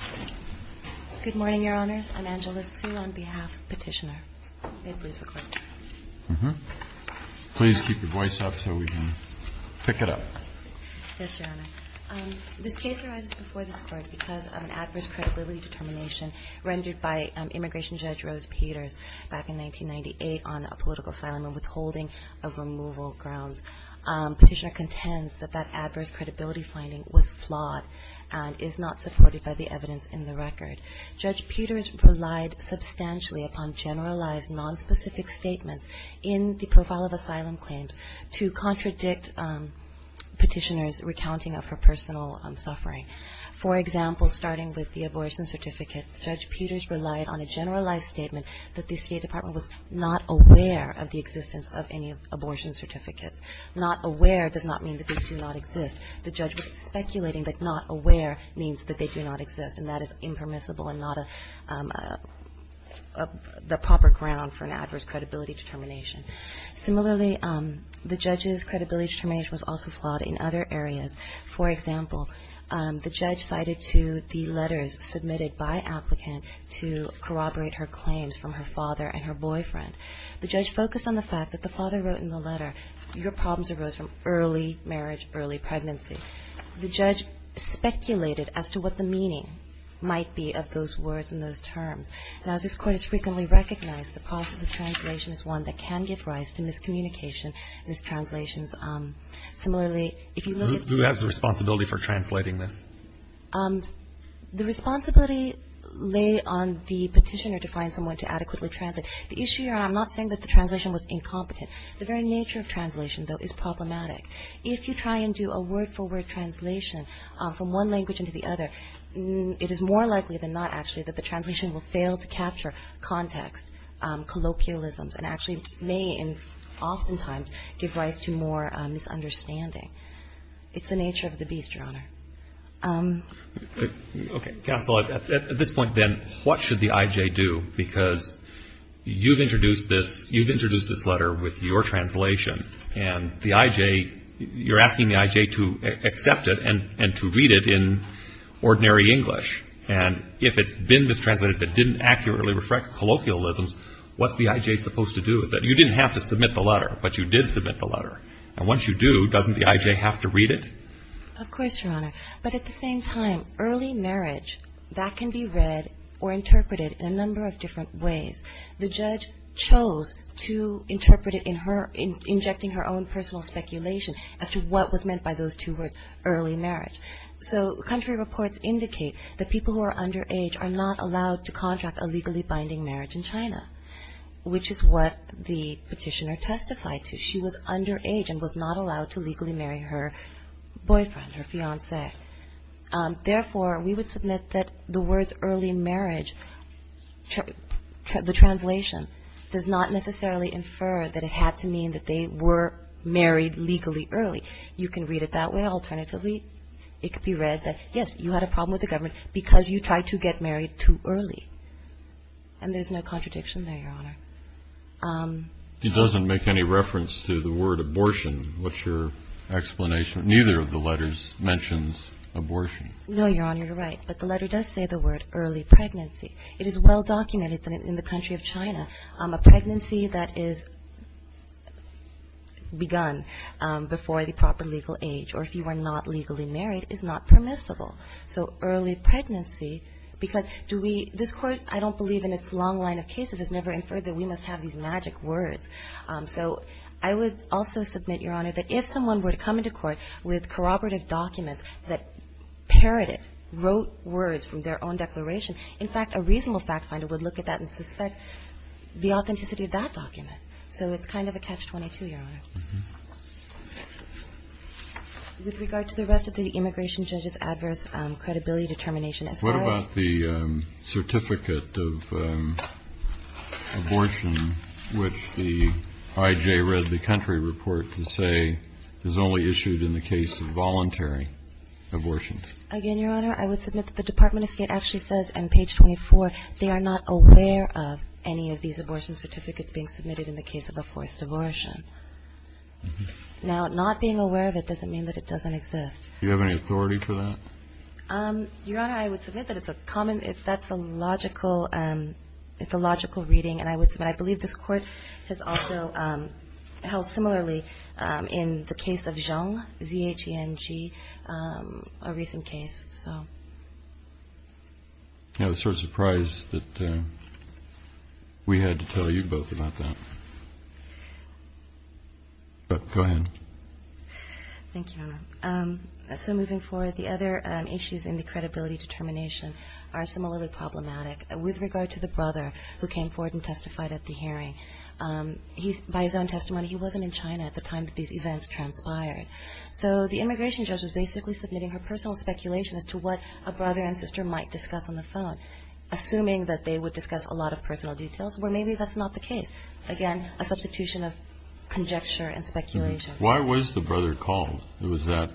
ANGELA SUE Good morning, Your Honors. I'm Angela Sue on behalf of Petitioner. May it please the Court. THE COURT Please keep your voice up so we can pick it up. ANGELA SUE Yes, Your Honor. This case arises before this Court because of an adverse credibility determination rendered by Immigration Judge Rose Peters back in 1998 on a political asylum and withholding of removal grounds. Petitioner contends that that adverse credibility finding was flawed and is not supported by the evidence in the record. Judge Peters relied substantially upon generalized, nonspecific statements in the profile of asylum claims to contradict Petitioner's recounting of her personal suffering. For example, starting with the abortion certificates, Judge Peters relied on a generalized statement that the State Department was not aware of the existence of any abortion certificates. Not aware does not mean that they do not exist. The judge was speculating that not aware means that they do not exist, and that is impermissible and not a proper ground for an adverse credibility determination. Similarly, the judge's credibility determination was also flawed in other areas. For example, the judge cited to the letters submitted by an applicant to corroborate her claims from her father and her boyfriend. The judge focused on the fact that the father wrote in the letter, your problems arose from early marriage, early pregnancy. The judge speculated as to what the meaning might be of those words and those terms. And as this Court has frequently recognized, the process of translation is one that can give rise to miscommunication and mistranslations. Similarly, if you look at the... Who has the responsibility for translating this? The responsibility lay on the petitioner to find someone to adequately translate. The issue here, I'm not saying that the translation was incompetent. The very nature of translation, though, is problematic. If you try and do a word-for-word translation from one language into the other, it is more likely than not, actually, that the translation will fail to capture context, colloquialisms, and actually may oftentimes give rise to more misunderstanding. It's the nature of the beast, Your Honor. Okay. Counsel, at this point, then, what should the I.J. do? Because you've introduced this letter with your translation, and the I.J. You're asking the I.J. to accept it and to read it in ordinary English. And if it's been mistranslated but didn't accurately reflect colloquialisms, what's the I.J. supposed to do with it? You didn't have to submit the letter, but you did submit the letter. And once you do, doesn't the I.J. have to read it? Of course, Your Honor. But at the same time, early marriage, that can be read or interpreted in a number of different ways. The judge chose to interpret it in her... injecting her own personal speculation as to what was meant by those two words, early marriage. So country reports indicate that people who are underage are not allowed to contract a legally binding marriage in China, which is what the petitioner testified to. She was underage and was not allowed to legally marry her boyfriend, her fiancé. Therefore, we would submit that the words early marriage, the translation, does not necessarily infer that it had to mean that they were married legally early. You can read it that way. Alternatively, it could be read that, yes, you had a problem with the government because you tried to get married too early. And there's no contradiction there, Your Honor. It doesn't make any reference to the word abortion. What's your explanation? Neither of the letters mentions abortion. No, Your Honor, you're right. But the letter does say the word early pregnancy. It is well-documented in the country of China. A pregnancy that is begun before the proper legal age, or if you are not legally married, is not permissible. So early pregnancy, because do we – this Court, I don't believe in its long line of cases, has never inferred that we must have these magic words. So I would also submit, Your Honor, that if someone were to come into court with corroborative documents that parroted, wrote words from their own declaration, in fact, a reasonable fact finder would look at that and suspect the authenticity of that document. So it's kind of a catch-22, Your Honor. With regard to the rest of the immigration judge's adverse credibility determination, as far as – What about the certificate of abortion, which the IJ read the country report to say is only issued in the case of voluntary abortions? Again, Your Honor, I would submit that the Department of State actually says on page 24 they are not aware of any of these abortion certificates being submitted in the case of a forced abortion. Now, not being aware of it doesn't mean that it doesn't exist. Do you have any authority for that? Your Honor, I would submit that it's a common – that's a logical – it's a logical reading, and I would submit I believe this Court has also held similarly in the case of Zhang, Z-H-E-N-G, a recent case, so. I was sort of surprised that we had to tell you both about that. Go ahead. Thank you, Your Honor. So moving forward, the other issues in the credibility determination are similarly problematic. With regard to the brother who came forward and testified at the hearing, by his own testimony, he wasn't in China at the time that these events transpired. So the immigration judge was basically submitting her personal speculation as to what a brother and sister might discuss on the phone, assuming that they would discuss a lot of personal details, where maybe that's not the case. Again, a substitution of conjecture and speculation. Why was the brother called? Was that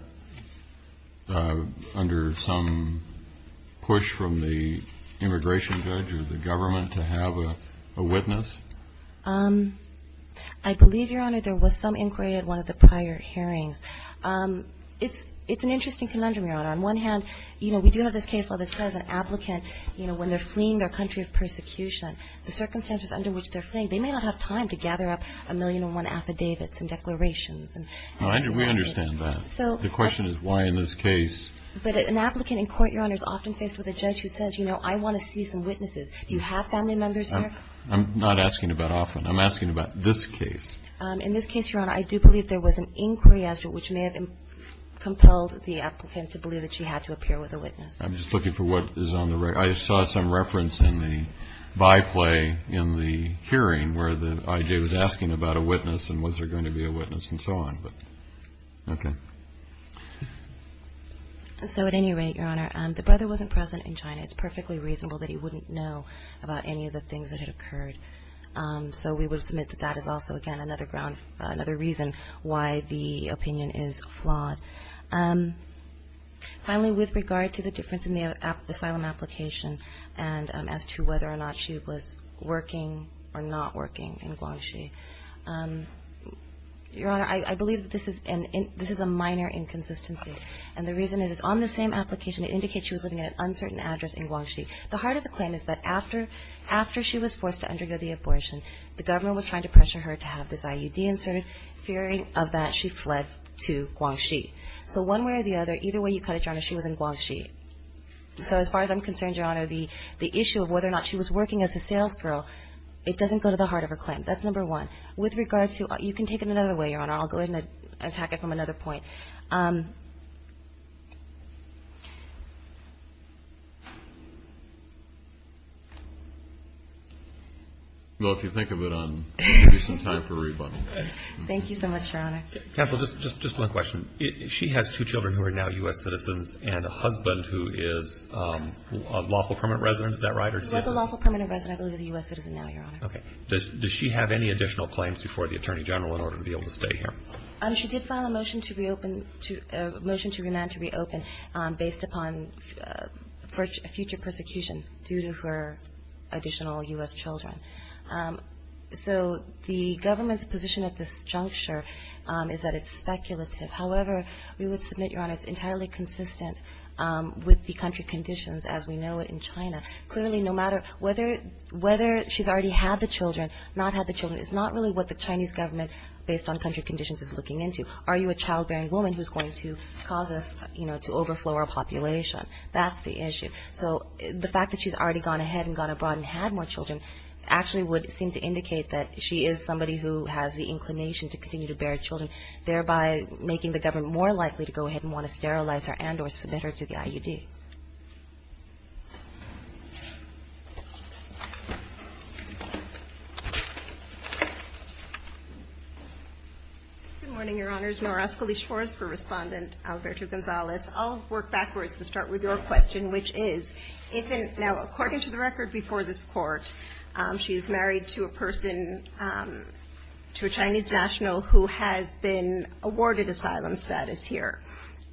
under some push from the immigration judge or the government to have a witness? I believe, Your Honor, there was some inquiry at one of the prior hearings. It's an interesting conundrum, Your Honor. On one hand, you know, we do have this case where it says an applicant, you know, when they're fleeing their country of persecution, the circumstances under which they're fleeing, they may not have time to gather up a million and one affidavits and declarations and things like that. We understand that. The question is why in this case? But an applicant in court, Your Honor, is often faced with a judge who says, you know, I want to see some witnesses. Do you have family members there? I'm not asking about often. I'm asking about this case. In this case, Your Honor, I do believe there was an inquiry as to which may have compelled the applicant to believe that she had to appear with a witness. I'm just looking for what is on the record. I saw some reference in the byplay in the hearing where the idea was asking about a witness and was there going to be a witness and so on. Okay. So at any rate, Your Honor, the brother wasn't present in China. It's perfectly reasonable that he wouldn't know about any of the things that had occurred. So we would submit that that is also, again, another ground, another reason why the opinion is flawed. Finally, with regard to the difference in the asylum application and as to whether or not she was working or not working in Guangxi, Your Honor, I believe that this is a minor inconsistency. And the reason is it's on the same application. It indicates she was living at an uncertain address in Guangxi. The heart of the claim is that after she was forced to undergo the abortion, the government was trying to pressure her to have this IUD inserted, fearing of that she fled to Guangxi. So one way or the other, either way you cut it, Your Honor, she was in Guangxi. So as far as I'm concerned, Your Honor, the issue of whether or not she was working as a salesgirl, it doesn't go to the heart of her claim. That's number one. With regard to you can take it another way, Your Honor. I'll go ahead and attack it from another point. Well, if you think of it, I'll give you some time for rebuttal. Thank you so much, Your Honor. Counsel, just one question. She has two children who are now U.S. citizens and a husband who is a lawful permanent resident. Is that right? He was a lawful permanent resident. I believe he's a U.S. citizen now, Your Honor. Okay. Does she have any additional claims before the Attorney General in order to be able to stay here? She did file a motion to reopen, a motion to remand to reopen based upon future persecution due to her additional U.S. children. So the government's position at this juncture is that it's speculative. However, we would submit, Your Honor, it's entirely consistent with the country conditions as we know it in China. Clearly, no matter whether she's already had the children, not had the children, is not really what the Chinese government, based on country conditions, is looking into. Are you a childbearing woman who's going to cause us to overflow our population? That's the issue. So the fact that she's already gone ahead and gone abroad and had more children actually would seem to indicate that she is somebody who has the inclination to continue to bear children, thereby making the government more likely to go ahead and want to sterilize her and or submit her to the IUD. Good morning, Your Honors. Nora Escaliche-Forsberg, Respondent, Alberto Gonzalez. I'll work backwards and start with your question, which is, now, according to the record before this Court, she is married to a person, to a Chinese national who has been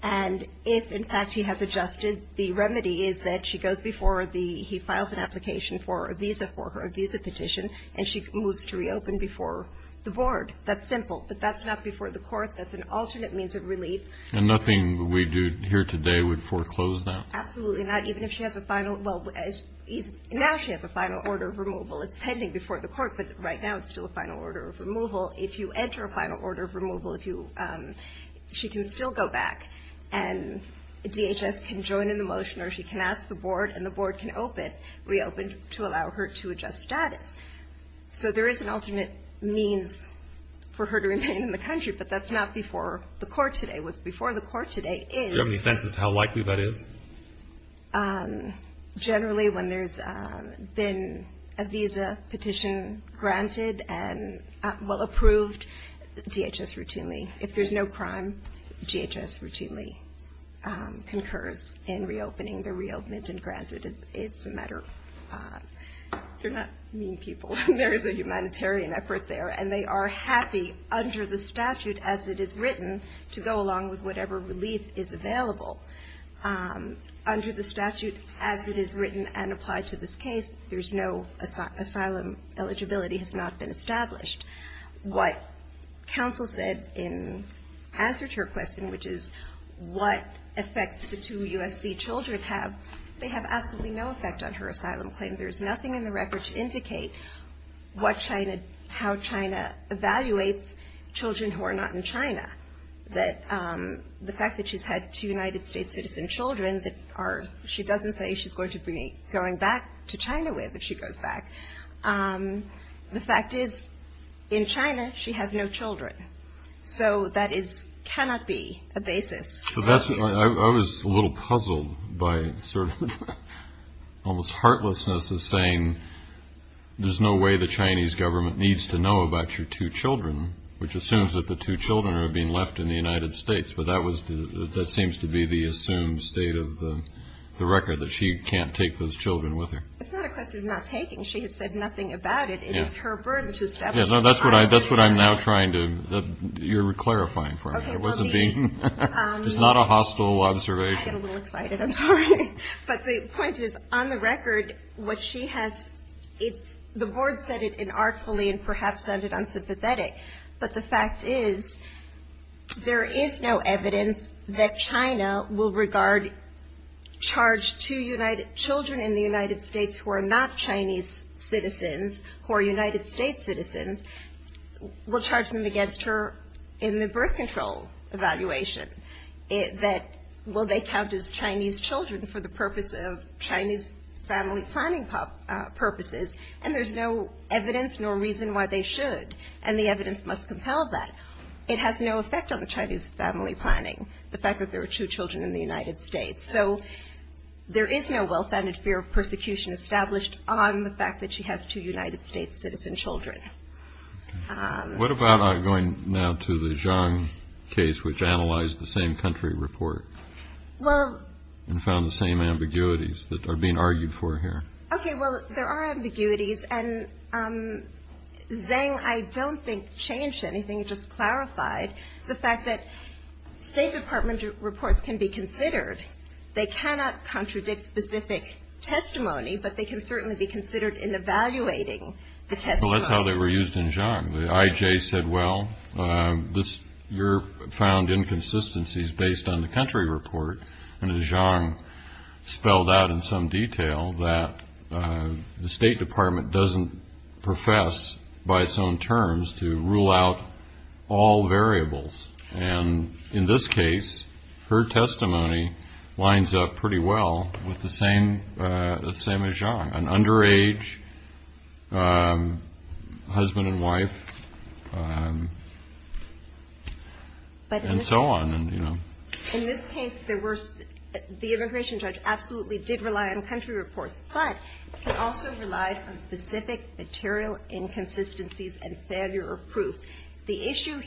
And if, in fact, she has adjusted, the remedy is that she goes before the he files an application for a visa for her, a visa petition, and she moves to reopen before the Board. That's simple. But that's not before the Court. That's an alternate means of relief. And nothing we do here today would foreclose that? Absolutely not. Even if she has a final, well, now she has a final order of removal. It's pending before the Court, but right now it's still a final order of removal. If you enter a final order of removal, she can still go back, and DHS can join in the motion, or she can ask the Board, and the Board can reopen to allow her to adjust status. So there is an alternate means for her to remain in the country, but that's not before the Court today. What's before the Court today is Do you have any sense as to how likely that is? Generally, when there's been a visa petition granted and, well, approved, DHS routinely, if there's no crime, DHS routinely concurs in reopening. They're reopened and granted. It's a matter of, they're not mean people. There is a humanitarian effort there, and they are happy under the statute as it is written to go along with whatever relief is available. Under the statute as it is written and applied to this case, there's no asylum. Eligibility has not been established. What counsel said in answer to her question, which is what effect the two USC children have, they have absolutely no effect on her asylum claim. There's nothing in the record to indicate what China, how China evaluates children who are not in China. The fact that she's had two United States citizen children that are, she doesn't say she's going to be going back to China with if she goes back. The fact is, in China, she has no children. So that is, cannot be a basis. I was a little puzzled by sort of almost heartlessness in saying, there's no way the Chinese government needs to know about your two children, which assumes that the two children are being left in the United States. But that was, that seems to be the assumed state of the record, that she can't take those children with her. It's not a question of not taking. She has said nothing about it. It is her burden to establish. That's what I'm now trying to, you're clarifying for me. It wasn't being, it's not a hostile observation. I get a little excited, I'm sorry. But the point is, on the record, what she has, the board said it inartfully and perhaps sounded unsympathetic. But the fact is, there is no evidence that China will regard, charge two children in the United States who are not Chinese citizens, who are United States citizens, will charge them against her in the birth control evaluation, that will they count as Chinese children for the purpose of Chinese family planning purposes. And there's no evidence nor reason why they should. And the evidence must compel that. It has no effect on the Chinese family planning, the fact that there are two children in the United States. So there is no well-founded fear of persecution established on the fact that she has two United States citizen children. What about going now to the Zhang case, which analyzed the same country report? Well. And found the same ambiguities that are being argued for here. Okay, well, there are ambiguities. And Zhang, I don't think, changed anything. It just clarified the fact that State Department reports can be considered. They cannot contradict specific testimony, but they can certainly be considered in evaluating the testimony. Well, that's how they were used in Zhang. The IJ said, well, you're found inconsistencies based on the country report. And Zhang spelled out in some detail that the State Department doesn't profess, by its own terms, to rule out all variables. And in this case, her testimony lines up pretty well with the same as Zhang, an underage husband and wife, and so on. In this case, the immigration judge absolutely did rely on country reports, but he also relied on specific material inconsistencies and failure of proof. And what is going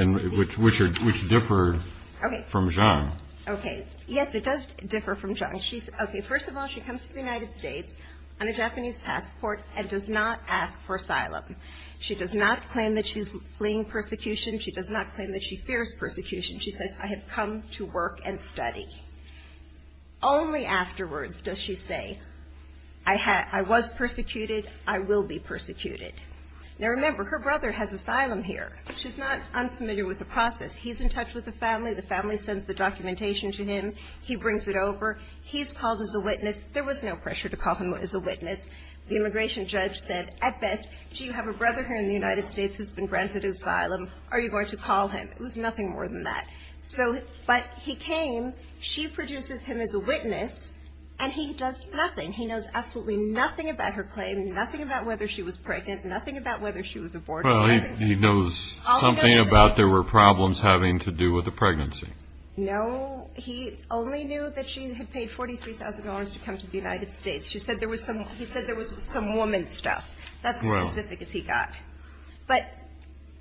to make a big difference for any Tennessee felon. Because the issue here Which for what? And which differed from Zhang? Okay. It does differ from Zhang. First of all, she comes to the United States, on a Japanese passport, and does not ask for asylum. She does not claim that she's fleeing persecution. She does not claim that she fears persecution. She says, I have come to work and study. Only afterwards does she say, I was persecuted. I will be persecuted. Now, remember, her brother has asylum here. She's not unfamiliar with the process. He's in touch with the family. The family sends the documentation to him. He brings it over. He's called as a witness. There was no pressure to call him as a witness. The immigration judge said, at best, do you have a brother here in the United States who's been granted asylum? Are you going to call him? It was nothing more than that. So, but he came. She produces him as a witness. And he does nothing. He knows absolutely nothing about her claim, nothing about whether she was pregnant, nothing about whether she was aborted. Well, he knows something about there were problems having to do with the pregnancy. No. He only knew that she had paid $43,000 to come to the United States. She said there was some he said there was some woman stuff. That's as specific as he got. But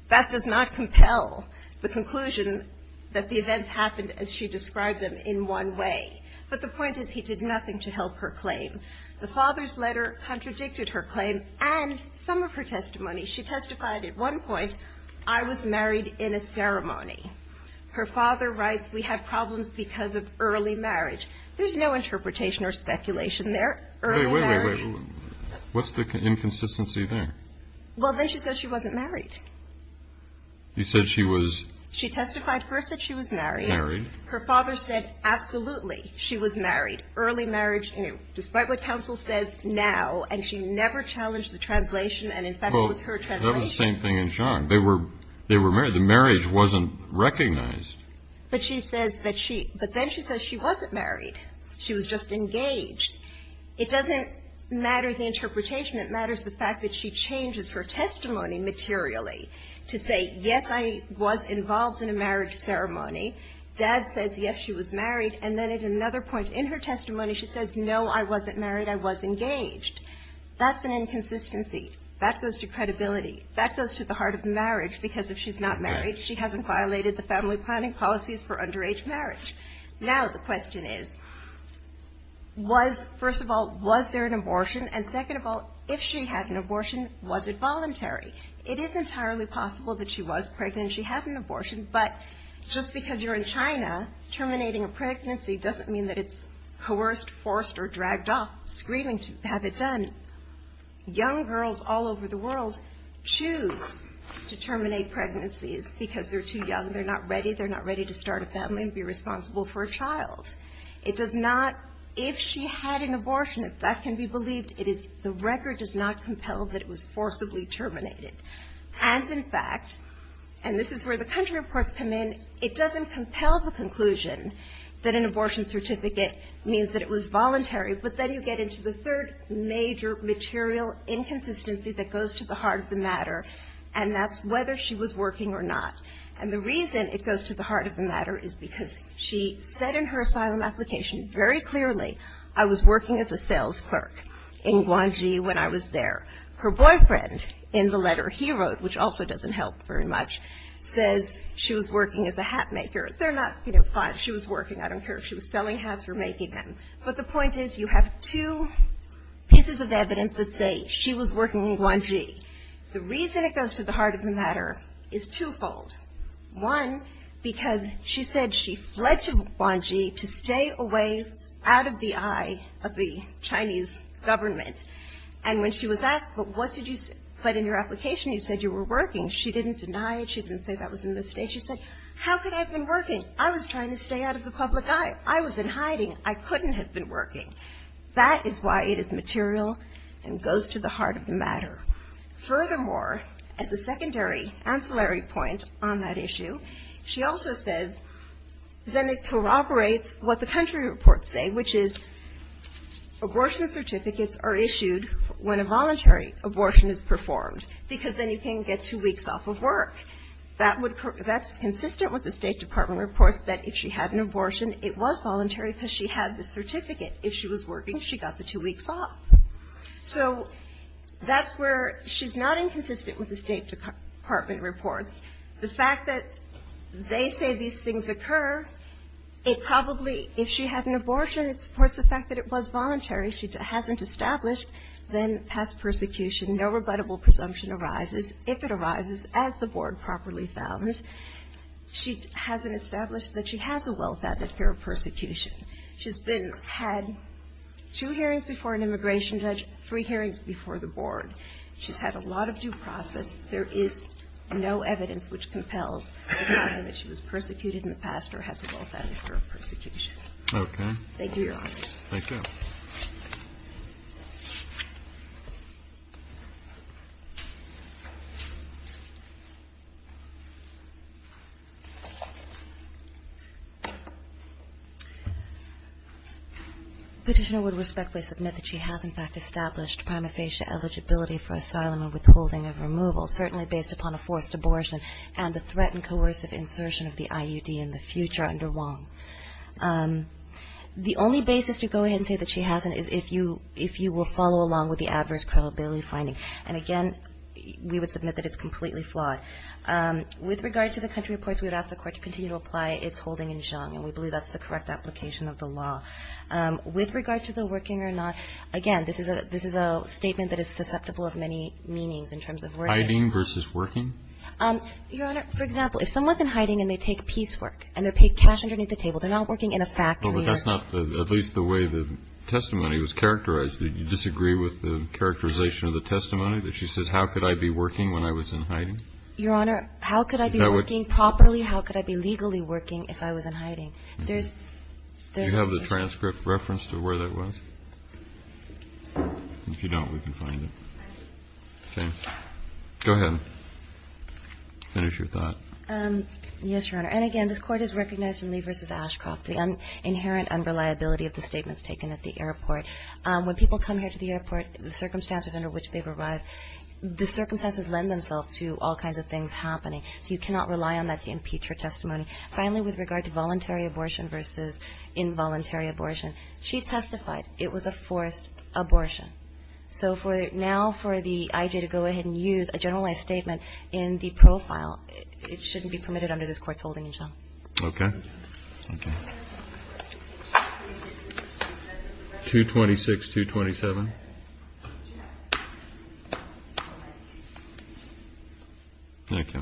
that does not compel the conclusion that the events happened as she described them in one way. But the point is he did nothing to help her claim. The father's letter contradicted her claim and some of her testimony. She testified at one point, I was married in a ceremony. Her father writes, we had problems because of early marriage. There's no interpretation or speculation there. Wait, wait, wait. What's the inconsistency there? Well, then she says she wasn't married. You said she was. She testified first that she was married. Married. Her father said, absolutely, she was married. Early marriage, you know, despite what counsel says now. And she never challenged the translation. And, in fact, it was her translation. Well, that was the same thing in Jean. They were married. The marriage wasn't recognized. But she says that she, but then she says she wasn't married. She was just engaged. It doesn't matter the interpretation. It matters the fact that she changes her testimony materially to say, yes, I was involved in a marriage ceremony. Dad says, yes, she was married. And then at another point in her testimony, she says, no, I wasn't married. I was engaged. That's an inconsistency. That goes to credibility. That goes to the heart of marriage, because if she's not married, she hasn't violated the family planning policies for underage marriage. Now, the question is, was, first of all, was there an abortion? And, second of all, if she had an abortion, was it voluntary? It is entirely possible that she was pregnant and she had an abortion. But just because you're in China, terminating a pregnancy doesn't mean that it's coerced, forced, or dragged off. It's grieving to have it done. Young girls all over the world choose to terminate pregnancies because they're too young. They're not ready. They're not ready to start a family and be responsible for a child. It does not, if she had an abortion, if that can be believed, it is, the record does not compel that it was forcibly terminated. And, in fact, and this is where the country reports come in, it doesn't compel the conclusion that an abortion certificate means that it was voluntary. But then you get into the third major material inconsistency that goes to the heart of the matter, and that's whether she was working or not. And the reason it goes to the heart of the matter is because she said in her asylum application very clearly, I was working as a sales clerk in Guangxi when I was there. Her boyfriend, in the letter he wrote, which also doesn't help very much, says she was working as a hat maker. They're not, you know, she was working. I don't care if she was selling hats or making them. But the point is you have two pieces of evidence that say she was working in Guangxi. The reason it goes to the heart of the matter is twofold. One, because she said she fled to Guangxi to stay away out of the eye of the Chinese government. And when she was asked, but what did you say? But in your application you said you were working. She didn't deny it. She didn't say that was a mistake. She said, how could I have been working? I was trying to stay out of the public eye. I was in hiding. I couldn't have been working. That is why it is material and goes to the heart of the matter. Furthermore, as a secondary ancillary point on that issue, she also says then it corroborates what the country reports say, which is abortion certificates are issued when a voluntary abortion is performed because then you can't get two weeks off of work. That's consistent with the State Department reports that if she had an abortion, it was voluntary because she had the certificate. If she was working, she got the two weeks off. So that's where she's not inconsistent with the State Department reports. The fact that they say these things occur, it probably, if she had an abortion, it supports the fact that it was voluntary. She hasn't established then past persecution. No rebuttable presumption arises. If it arises, as the Board properly found, she hasn't established that she has a well-founded fear of persecution. She's had two hearings before an immigration judge, three hearings before the Board. She's had a lot of due process. There is no evidence which compels the finding that she was persecuted in the past or has a well-founded fear of persecution. Thank you, Your Honors. Thank you. Petitioner would respectfully submit that she has, in fact, established prima facie eligibility for asylum and withholding of removal, certainly based upon a forced abortion and the threat and coercive insertion of the IUD in the future under Wong. The only basis to go ahead and say that she hasn't is if you will follow along with the adverse credibility finding. And again, we would submit that it's completely flawed. With regard to the country reports, we would ask the Court to continue to apply its holding in Xiong. And we believe that's the correct application of the law. With regard to the working or not, again, this is a statement that is susceptible of many meanings in terms of working. Hiding versus working? Your Honor, for example, if someone's in hiding and they take piecework and they're working, they're not working in a factory. Well, but that's not at least the way the testimony was characterized. Did you disagree with the characterization of the testimony that she says, how could I be working when I was in hiding? Your Honor, how could I be working properly? How could I be legally working if I was in hiding? There's no such thing. Do you have the transcript reference to where that was? If you don't, we can find it. Okay. Go ahead. Finish your thought. Yes, Your Honor. And, again, this Court has recognized in Lee v. Ashcroft the inherent unreliability of the statements taken at the airport. When people come here to the airport, the circumstances under which they've arrived, the circumstances lend themselves to all kinds of things happening. So you cannot rely on that to impeach her testimony. Finally, with regard to voluntary abortion versus involuntary abortion, she testified it was a forced abortion. So now for the IJ to go ahead and use a generalized statement in the profile, it shouldn't be permitted under this Court's holding, Your Honor. Okay. Thank you. 226-227. Thank you.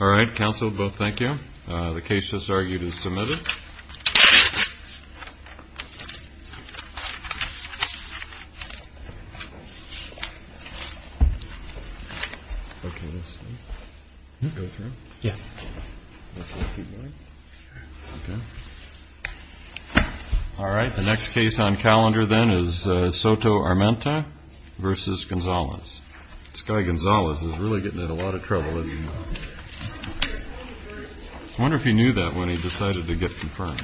All right. Counsel, both, thank you. The case just argued is submitted. Okay. Go through? Yes. All right. The next case on calendar, then, is Soto-Armenta v. Gonzalez. This guy, Gonzalez, is really getting in a lot of trouble, isn't he? I wonder if he knew that when he decided to get confirmed.